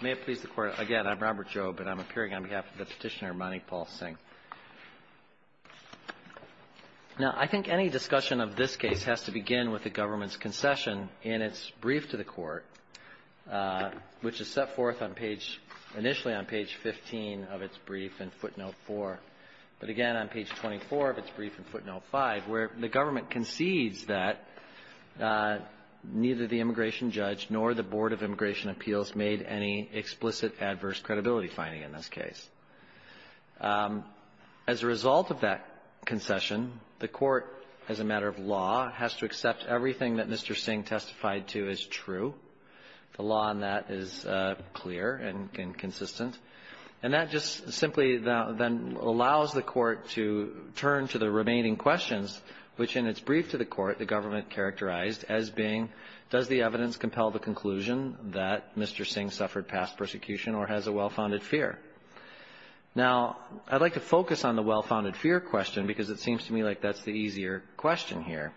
May it please the Court. Again, I'm Robert Jobe, and I'm appearing on behalf of the petitioner, Mani Paul Singh. Now, I think any discussion of this case has to begin with the government's concession in its brief to the Court, which is set forth initially on page 15 of its brief in footnote 4, but again on page 24 of its brief in footnote 5, where the government concedes that neither the immigration judge nor the Board of Immigration Appeals made any explicit adverse credibility finding in this case. As a result of that concession, the Court, as a matter of law, has to accept everything that Mr. Singh testified to as true. The law on that is clear and consistent. And that just simply then allows the Court to turn to the remaining questions, which in its brief to the Court the government characterized as being, does the evidence compel the conclusion that Mr. Singh suffered past persecution or has a well-founded fear? Now, I'd like to focus on the well-founded fear question because it seems to me like that's the easier question here.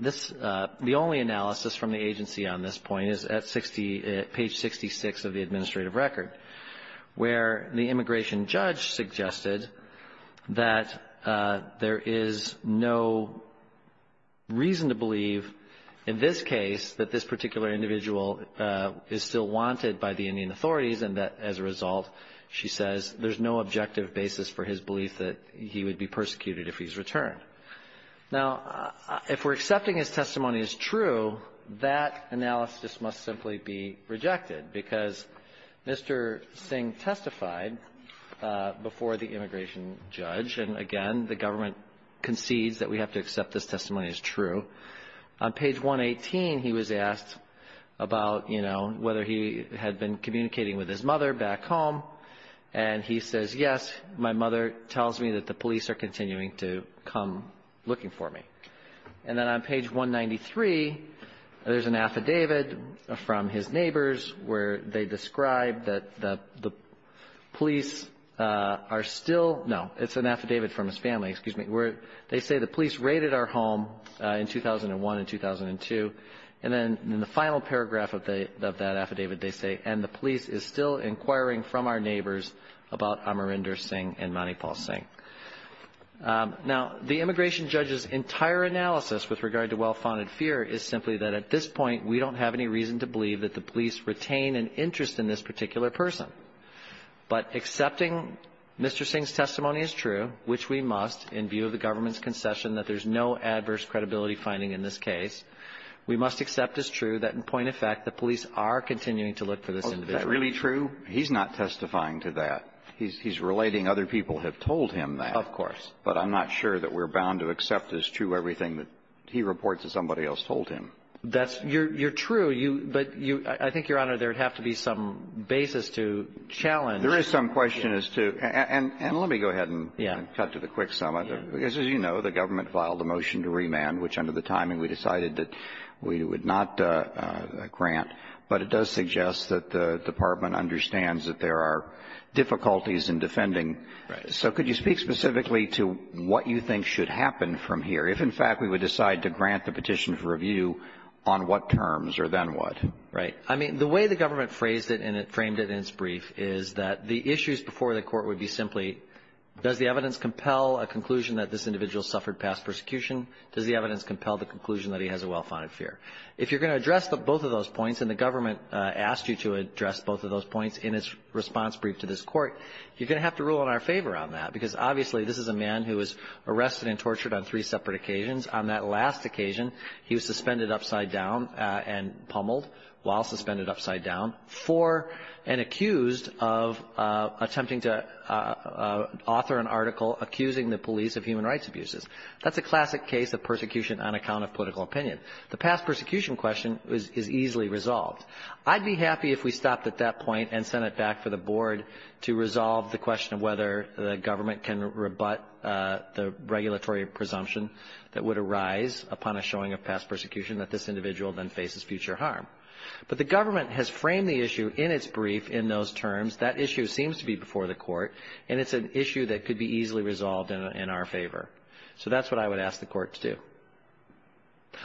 The only analysis from the agency on this point is at page 66 of the administrative record, where the immigration judge suggested that there is no reason to believe in this case that this particular individual is still wanted by the Indian authorities and that, as a result, she says, there's no objective basis for his belief that he would be persecuted if he's returned. Now, if we're accepting his testimony as true, that analysis must simply be rejected because Mr. Singh testified before the immigration judge. And, again, the government concedes that we have to accept this testimony as true. On page 118, he was asked about, you know, whether he had been communicating with his mother back home. And he says, yes, my mother tells me that the police are continuing to come looking for me. And then on page 193, there's an affidavit from his neighbors where they describe that the police are still no, it's an affidavit from his family, excuse me, where they say the police raided our home in 2001 and 2002. And then in the final paragraph of that affidavit, they say, and the police is still inquiring from our neighbors about Amarinder Singh and Manipal Singh. Now, the immigration judge's entire analysis with regard to well-founded fear is simply that at this point, we don't have any reason to believe that the police retain an interest in this particular person. But accepting Mr. Singh's testimony as true, which we must in view of the government's concession that there's no adverse credibility finding in this case, we must accept as true that in point of fact, the police are continuing to look for this individual. Kennedy. Is that really true? He's not testifying to that. He's relating other people have told him that. Of course. But I'm not sure that we're bound to accept as true everything that he reports that somebody else told him. That's you're true. But you – I think, Your Honor, there would have to be some basis to challenge. There is some question as to – and let me go ahead and cut to the quick sum of it. Yeah. As you know, the government filed a motion to remand, which under the timing, we decided that we would not grant. But it does suggest that the department understands that there are difficulties in defending. Right. So could you speak specifically to what you think should happen from here? If, in fact, we would decide to grant the petition for review, on what terms or then what? Right. I mean, the way the government phrased it and it framed it in its brief is that the issues before the court would be simply, does the evidence compel a conclusion that this individual suffered past persecution? Does the evidence compel the conclusion that he has a well-founded fear? If you're going to address both of those points, and the government asked you to address both of those points in its response brief to this court, you're going to have to rule in our favor on that because, obviously, this is a man who was arrested and tortured on three separate occasions. On that last occasion, he was suspended upside down and pummeled while suspended upside down for and accused of attempting to author an article accusing the police of human rights abuses. That's a classic case of persecution on account of political opinion. The past persecution question is easily resolved. I'd be happy if we stopped at that point and sent it back for the board to resolve the question of whether the government can rebut the regulatory presumption that would arise upon a showing of past persecution that this individual then faces future harm. But the government has framed the issue in its brief in those terms. That issue seems to be before the court, and it's an issue that could be easily resolved in our favor. So that's what I would ask the court to do.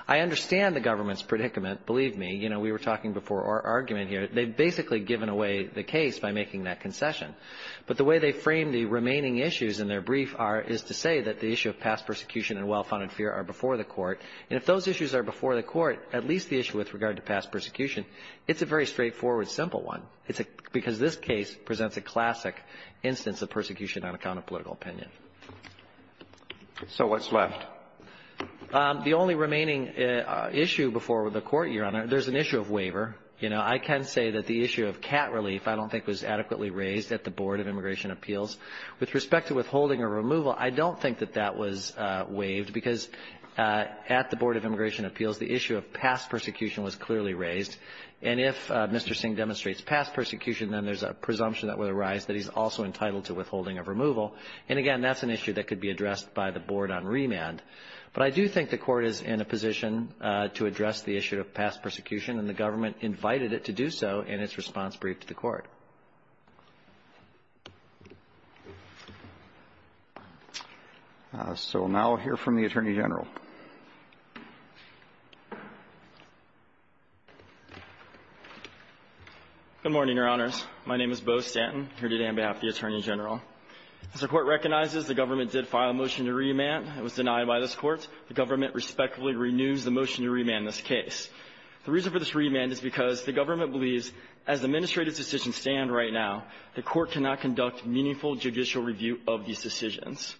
I understand the government's predicament, believe me. You know, we were talking before our argument here. They've basically given away the case by making that concession. But the way they frame the remaining issues in their brief is to say that the issue of past persecution and well-founded fear are before the court, and if those issues are before the court, at least the issue with regard to past persecution, it's a very straightforward, simple one. It's because this case presents a classic instance of persecution on account of political opinion. So what's left? The only remaining issue before the court, Your Honor, there's an issue of waiver. You know, I can say that the issue of cat relief I don't think was adequately raised at the Board of Immigration Appeals. With respect to withholding or removal, I don't think that that was waived because at the Board of Immigration Appeals, the issue of past persecution was clearly raised. And if Mr. Singh demonstrates past persecution, then there's a presumption that would arise that he's also entitled to withholding of removal. And, again, that's an issue that could be addressed by the Board on remand. But I do think the court is in a position to address the issue of past persecution, and the government invited it to do so in its response brief to the court. So now I'll hear from the Attorney General. Good morning, Your Honors. My name is Beau Stanton. Here today on behalf of the Attorney General. As the Court recognizes, the government did file a motion to remand. It was denied by this Court. The government respectfully renews the motion to remand this case. The reason for this remand is because the government believes, as the administrative decisions stand right now, the Court cannot conduct meaningful judicial review of these decisions.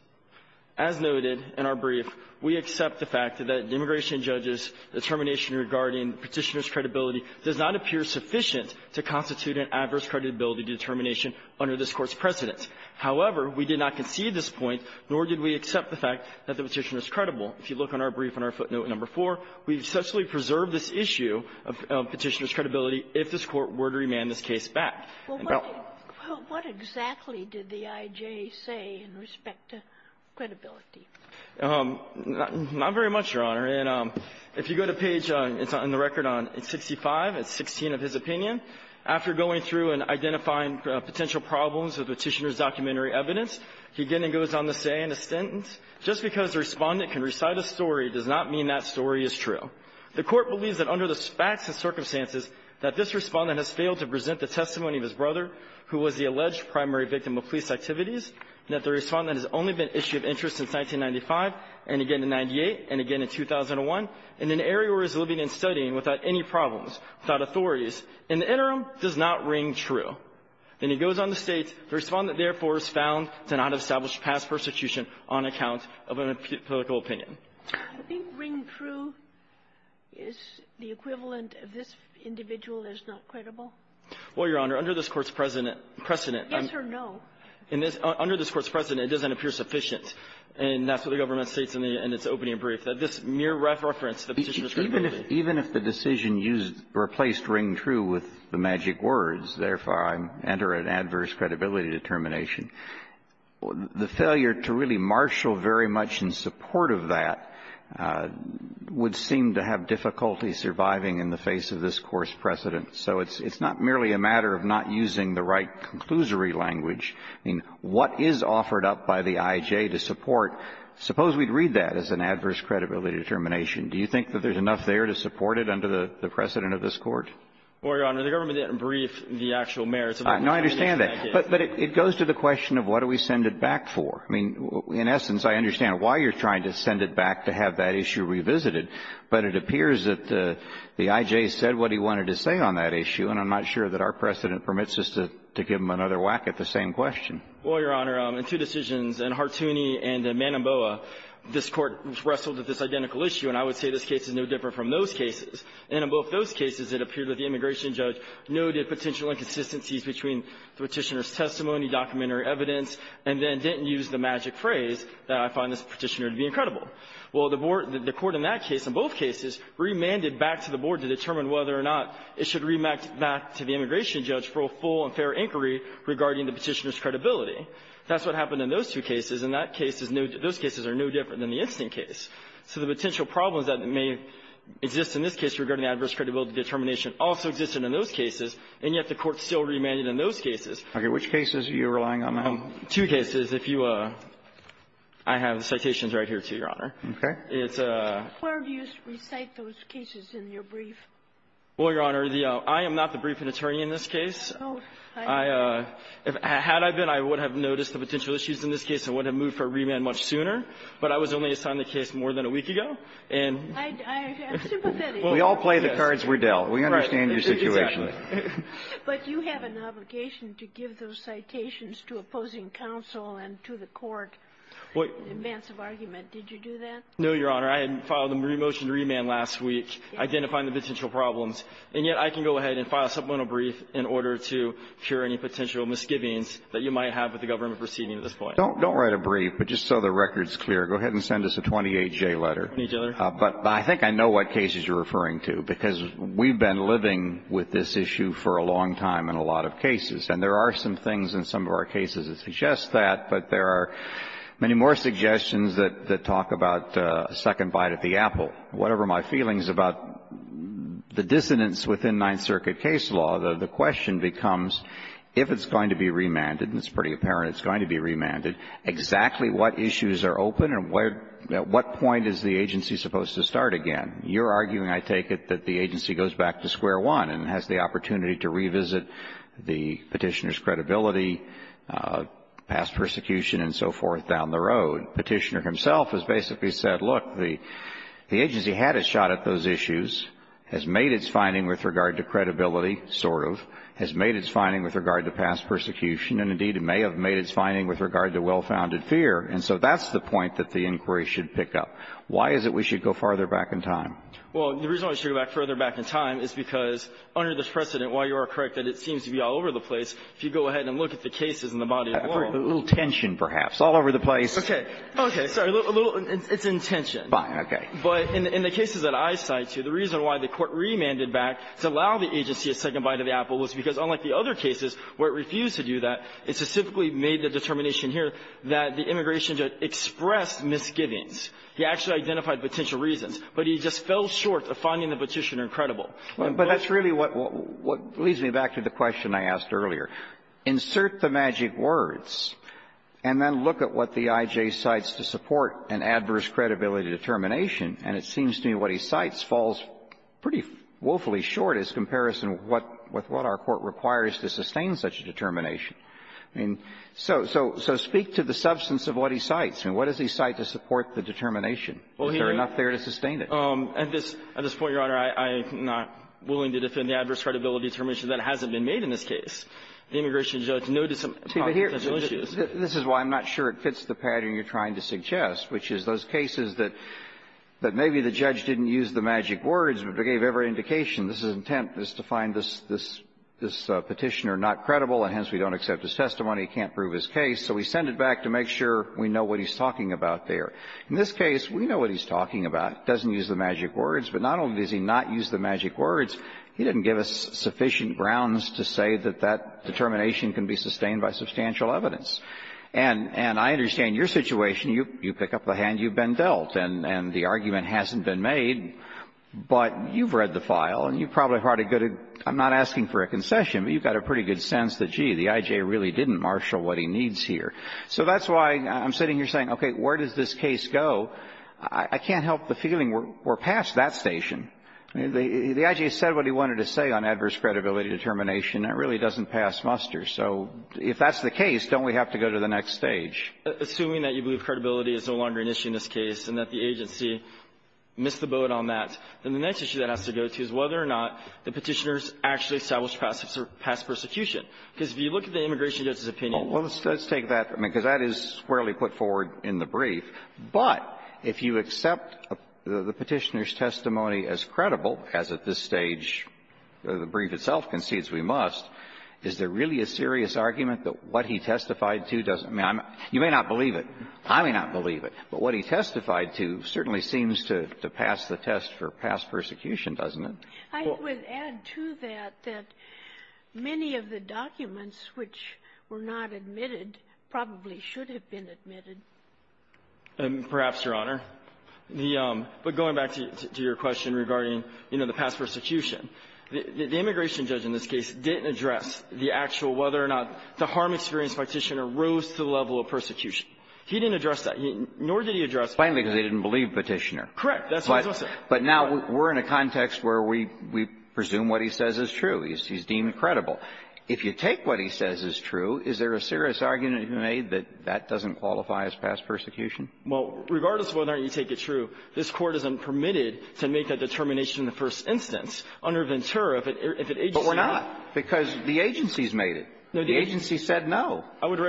As noted in our brief, we accept the fact that the immigration judge's determination regarding Petitioner's credibility does not appear sufficient to constitute an adverse credibility determination under this Court's precedence. However, we did not concede this point, nor did we accept the fact that the Petitioner is credible. If you look on our brief, on our footnote number 4, we successfully preserved this issue of Petitioner's credibility if this Court were to remand this case back. Sotomayor, what exactly did the IJ say in respect to credibility? Not very much, Your Honor. And if you go to page, it's on the record on 65, it's 16 of his opinion. After going through and identifying potential problems of Petitioner's documentary evidence, he again goes on to say in his sentence, just because the Respondent can recite a story does not mean that story is true. The Court believes that under the facts and circumstances that this Respondent has failed to present the testimony of his brother, who was the alleged primary victim of police activities, and that the Respondent has only been an issue of interest since 1995, and again in 98, and again in 2001, in an area where he's living and studying without any problems, without authorities. In the interim, it does not ring true. Then he goes on to state, the Respondent, therefore, is found to not have established past persecution on account of a political opinion. I think ring true is the equivalent of this individual is not credible. Well, Your Honor, under this Court's precedent, precedent. Yes or no. Under this Court's precedent, it doesn't appear sufficient. And that's what the government states in its opening brief, that this mere reference to Petitioner's credibility. Even if the decision used or replaced ring true with the magic words, therefore I enter an adverse credibility determination, the failure to really marshal very much in support of that would seem to have difficulty surviving in the face of this Course precedent. So it's not merely a matter of not using the right conclusory language. I mean, what is offered up by the I.J. to support? Suppose we'd read that as an adverse credibility determination. Do you think that there's enough there to support it under the precedent of this Court? Well, Your Honor, the government didn't brief the actual merits of the Petitioner's backhand. No, I understand that. But it goes to the question of what do we send it back for. I mean, in essence, I understand why you're trying to send it back to have that issue revisited. But it appears that the I.J. said what he wanted to say on that issue, and I'm not sure that our precedent permits us to give him another whack at the same question. Well, Your Honor, in two decisions, in Hartooni and in Manomboa, this Court wrestled at this identical issue, and I would say this case is no different from those cases. And in both those cases, it appeared that the immigration judge noted potential inconsistencies between the Petitioner's testimony, documentary evidence, and then didn't use the magic phrase that I find this Petitioner to be incredible. Well, the Court in that case, in both cases, remanded back to the Board to determine whether or not it should remand back to the immigration judge for a full and fair inquiry regarding the Petitioner's credibility. That's what happened in those two cases, and those cases are no different than the instant case. So the potential problems that may exist in this case regarding adverse credibility determination also existed in those cases, and yet the Court still remanded in those cases. Okay. Which cases are you relying on now? Two cases. If you – I have the citations right here, too, Your Honor. Okay. It's a – Where do you recite those cases in your brief? Well, Your Honor, the – I am not the briefing attorney in this case. Oh. I – had I been, I would have noticed the potential issues in this case and would have moved for a remand much sooner, but I was only assigned the case more than a week ago, and – I'm sympathetic. We all play the cards we're dealt. We understand your situation. But you have an obligation to give those citations to opposing counsel and to the Court in advance of argument. Did you do that? No, Your Honor. I had filed a motion to remand last week, identifying the potential problems. And yet I can go ahead and file a supplemental brief in order to cure any potential misgivings that you might have with the government proceeding at this point. Don't write a brief, but just so the record's clear, go ahead and send us a 28-J letter. Okay, Your Honor. But I think I know what cases you're referring to, because we've been living with this issue for a long time in a lot of cases. And there are some things in some of our cases that suggest that, but there are many more suggestions that talk about a second bite at the apple. Whatever my feelings about the dissonance within Ninth Circuit case law, the question becomes, if it's going to be remanded, and it's pretty apparent it's going to be remanded, exactly what issues are open and at what point is the agency supposed to start again? You're arguing, I take it, that the agency goes back to square one and has the opportunity to revisit the Petitioner's credibility, past persecution and so forth down the road. Petitioner himself has basically said, look, the agency had a shot at those issues, has made its finding with regard to credibility, sort of, has made its finding with regard to past persecution, and, indeed, it may have made its finding with regard to well-founded fear, and so that's the point that the inquiry should pick up. Why is it we should go farther back in time? Well, the reason why we should go further back in time is because, under this precedent, while you are correct that it seems to be all over the place, if you go ahead and look at the cases in the body of law — A little tension, perhaps. All over the place. Okay. Okay. Sorry. A little — it's in tension. Fine. Okay. But in the cases that I cite, too, the reason why the Court remanded back to allow the agency a second bite of the apple was because, unlike the other cases where it refused to do that, it specifically made the determination here that the immigration judge expressed misgivings. He actually identified potential reasons, but he just fell short of finding the Petitioner credible. But that's really what leads me back to the question I asked earlier. Insert the magic words and then look at what the IJ cites to support an adverse credibility determination, and it seems to me what he cites falls pretty woefully short as comparison with what our Court requires to sustain such a determination. So speak to the substance of what he cites. I mean, what does he cite to support the determination? Is there enough there to sustain it? At this point, Your Honor, I'm not willing to defend the adverse credibility determination. That hasn't been made in this case. The immigration judge noted some potential issues. This is why I'm not sure it fits the pattern you're trying to suggest, which is those cases that maybe the judge didn't use the magic words, but they gave every indication. His intent is to find this Petitioner not credible, and hence we don't accept his testimony, can't prove his case, so we send it back to make sure we know what he's talking about there. In this case, we know what he's talking about. He doesn't use the magic words, but not only does he not use the magic words, he didn't give us sufficient grounds to say that that determination can be sustained by substantial evidence. And I understand your situation. You pick up the hand you've been dealt, and the argument hasn't been made, but you've read the file, and you probably have a good idea. I'm not asking for a concession, but you've got a pretty good sense that, gee, the I.J. really didn't marshal what he needs here. So that's why I'm sitting here saying, okay, where does this case go? I can't help the feeling we're past that station. The I.J. said what he wanted to say on adverse credibility determination. That really doesn't pass muster. So if that's the case, don't we have to go to the next stage? Assuming that you believe credibility is no longer an issue in this case and that the agency missed the boat on that, then the next issue that has to go to is whether or not the Petitioner's actually established past persecution. Because if you look at the immigration judge's opinion of the case, it's not a credible case. Well, let's take that, because that is squarely put forward in the brief, but if you accept the Petitioner's testimony as credible, as at this stage the brief itself concedes we must, is there really a serious argument that what he testified to doesn't matter? You may not believe it. I may not believe it. But what he testified to certainly seems to pass the test for past persecution, doesn't it? I would add to that that many of the documents which were not admitted probably should have been admitted. Perhaps, Your Honor. The — but going back to your question regarding, you know, the past persecution, the immigration judge in this case didn't address the actual whether or not the harm experience Petitioner rose to the level of persecution. He didn't address that. Nor did he address the — Plainly because he didn't believe Petitioner. Correct. That's what he said. But now we're in a context where we presume what he says is true. He's deemed credible. If you take what he says is true, is there a serious argument to be made that that doesn't qualify as past persecution? Well, regardless of whether or not you take it true, this Court isn't permitted to make that determination in the first instance under Ventura if it — But we're not, because the agency's made it. The agency said no. I would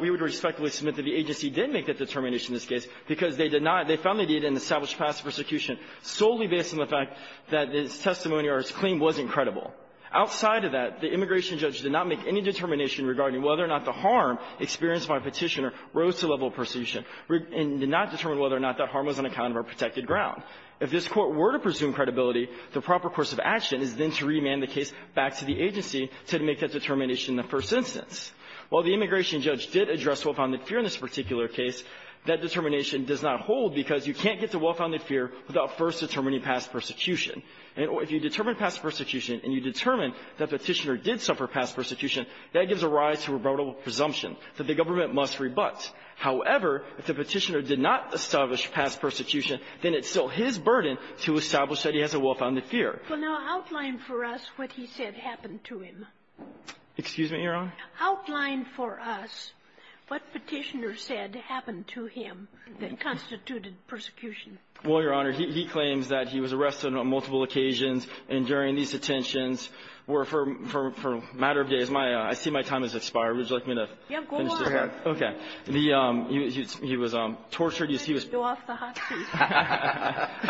— we would respectfully submit that the agency did make that determination in this case because they did not — they found they did in the established past persecution solely based on the fact that his testimony or his claim wasn't credible. Outside of that, the immigration judge did not make any determination regarding whether or not the harm experienced by Petitioner rose to the level of persecution and did not determine whether or not that harm was on account of our protected ground. If this Court were to presume credibility, the proper course of action is then to remand the case back to the agency to make that determination in the first instance. While the immigration judge did address well-founded fear in this particular case, that determination does not hold because you can't get to well-founded fear without first determining past persecution. If you determine past persecution and you determine that Petitioner did suffer past persecution, that gives a rise to a rebuttable presumption that the government must rebut. However, if the Petitioner did not establish past persecution, then it's still his burden to establish that he has a well-founded fear. Well, now, outline for us what he said happened to him. Excuse me, Your Honor? Outline for us what Petitioner said happened to him that constituted persecution. Well, Your Honor, he claims that he was arrested on multiple occasions and during these detentions were for a matter of days. My — I see my time has expired. Would you like me to finish this? Yeah, go on. Go ahead. Okay. The — he was tortured. You see, he was — I'm going to have to go off the hot seat.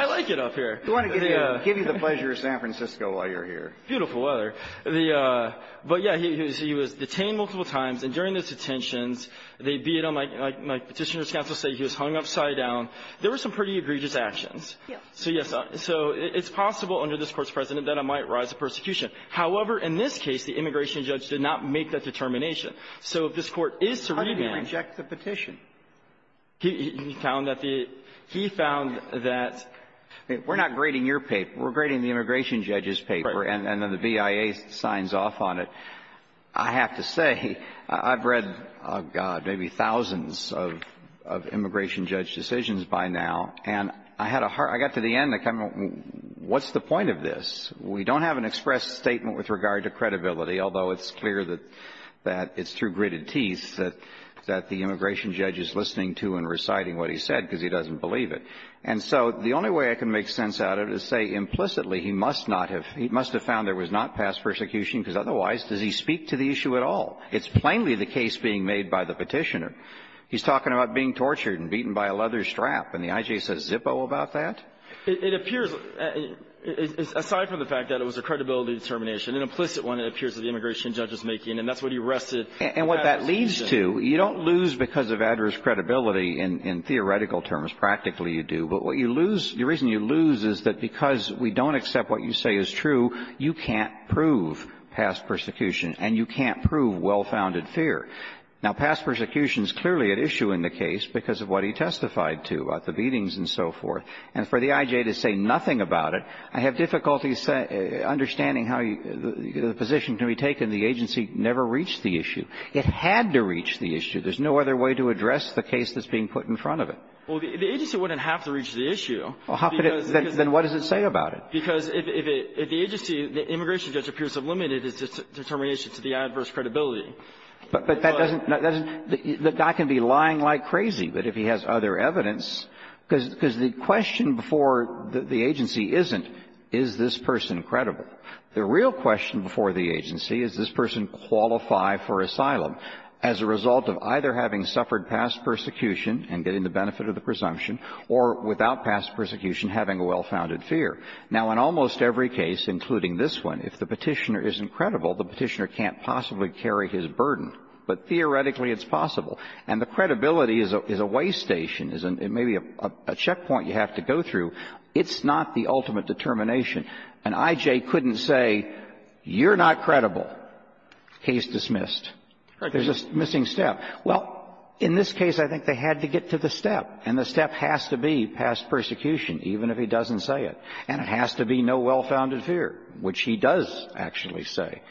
I like it up here. We want to give you the pleasure of San Francisco while you're here. Beautiful weather. The — but, yeah, he was detained multiple times, and during those detentions, they beat him, like Petitioner's counsel said, he was hung upside down. There were some pretty egregious actions. So, yes, so it's possible under this Court's precedent that it might rise to persecution. However, in this case, the immigration judge did not make that determination. So if this Court is to remand — How did he reject the petition? He — he found that the — he found that — We're not grading your paper. We're grading the immigration judge's paper. Right. And then the BIA signs off on it. I have to say, I've read, oh, God, maybe thousands of — of immigration judge decisions by now, and I had a hard — I got to the end, like, I'm — what's the point of this? We don't have an express statement with regard to credibility, although it's clear that — that it's through gritted teeth that — that the immigration judge is listening to and reciting what he said, because he doesn't believe it. And so the only way I can make sense out of it is say implicitly he must not have — he must have found there was not past persecution, because otherwise, does he speak to the issue at all? It's plainly the case being made by the Petitioner. He's talking about being tortured and beaten by a leather strap, and the I.J. says zippo about that? It appears, aside from the fact that it was a credibility determination, an implicit one, it appears that the immigration judge is making, and that's what he rested — And what that leads to, you don't lose because of adverse credibility in — in theoretical terms. Practically, you do. But what you lose — the reason you lose is that because we don't accept what you say is true, you can't prove past persecution, and you can't prove well-founded fear. Now, past persecution is clearly at issue in the case because of what he testified to about the beatings and so forth. And for the I.J. to say nothing about it, I have difficulties understanding how the position can be taken. The agency never reached the issue. It had to reach the issue. There's no other way to address the case that's being put in front of it. Well, the agency wouldn't have to reach the issue. Well, how could it — then what does it say about it? Because if the agency — the immigration judge appears to have limited his determination to the adverse credibility. But that doesn't — that doesn't — the guy can be lying like crazy. But if he has other evidence — because — because the question before the agency isn't, is this person credible? The real question before the agency is, does this person qualify for asylum as a result of either having suffered past persecution and getting the benefit of the presumption or, without past persecution, having a well-founded fear? Now, in almost every case, including this one, if the Petitioner isn't credible, the Petitioner can't possibly carry his burden. But theoretically, it's possible. And the credibility is a way station, is a — maybe a checkpoint you have to go through. It's not the ultimate determination. And I.J. couldn't say, you're not credible, case dismissed. There's a missing step. Well, in this case, I think they had to get to the step. And the step has to be past persecution, even if he doesn't say it. And it has to be no well-founded fear, which he does actually say.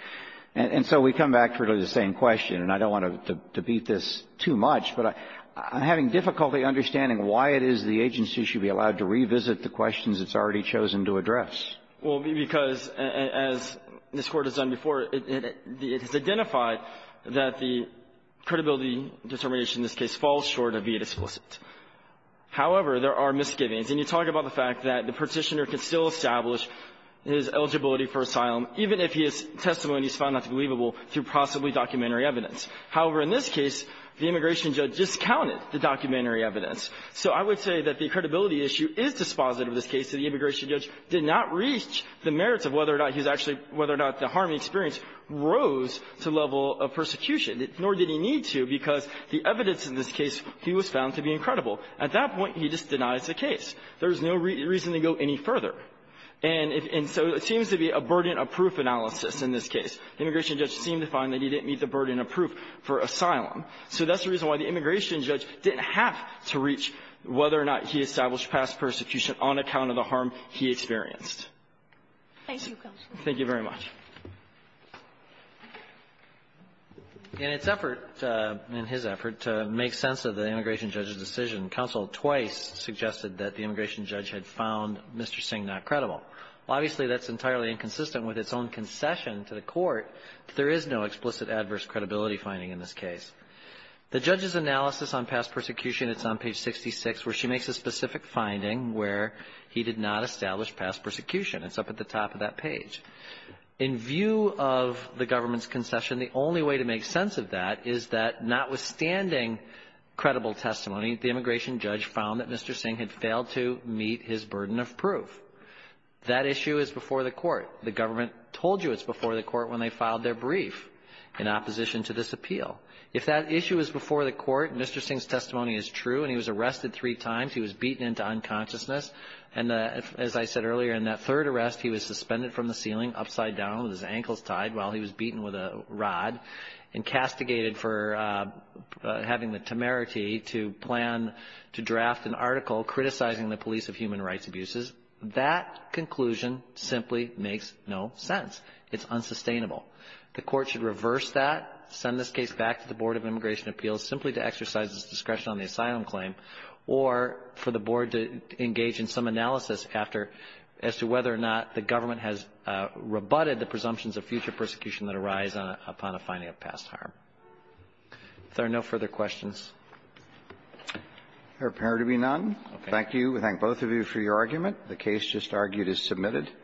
And so we come back to really the same question. And I don't want to debate this too much, but I'm having difficulty understanding why it is the agency should be allowed to revisit the questions it's already chosen to address. Well, because, as this Court has done before, it has identified that the credibility determination in this case falls short of being explicit. However, there are misgivings. And you talk about the fact that the Petitioner can still establish his eligibility for asylum, even if his testimony is found not to be believable, through possibly documentary evidence. However, in this case, the immigration judge discounted the documentary evidence. So I would say that the credibility issue is dispositive of this case, and the immigration judge did not reach the merits of whether or not he was actually — whether or not the harm he experienced rose to the level of persecution, nor did he need to, because the evidence in this case, he was found to be incredible. At that point, he just denies the case. There is no reason to go any further. And if — and so it seems to be a burden-of-proof analysis in this case. The immigration judge seemed to find that he didn't meet the burden of proof for asylum. So that's the reason why the immigration judge didn't have to reach whether or not he established past persecution on account of the harm he experienced. Thank you, Counsel. Thank you very much. In its effort, in his effort, to make sense of the immigration judge's decision, counsel twice suggested that the immigration judge had found Mr. Singh not credible. Obviously, that's entirely inconsistent with its own concession to the Court that there is no explicit adverse credibility finding in this case. The judge's analysis on past persecution, it's on page 66, where she makes a specific finding where he did not establish past persecution. It's up at the top of that page. In view of the government's concession, the only way to make sense of that is that, notwithstanding credible testimony, the immigration judge found that Mr. Singh had failed to meet his burden of proof. That issue is before the Court. The government told you it's before the Court when they filed their brief in opposition to this appeal. If that issue is before the Court, Mr. Singh's testimony is true, and he was arrested three times. He was beaten into unconsciousness. And as I said earlier, in that third arrest, he was suspended from the ceiling upside down with his ankles tied while he was beaten with a rod, and castigated for having the temerity to plan to draft an article criticizing the police of human rights abuses. That conclusion simply makes no sense. It's unsustainable. The Court should reverse that, send this case back to the Board of Immigration Appeals simply to exercise its discretion on the asylum claim, or for the Board to engage in some presumptions of future persecution that arise upon a finding of past harm. If there are no further questions. Roberts. There appear to be none. Thank you. We thank both of you for your argument. The case just argued is submitted.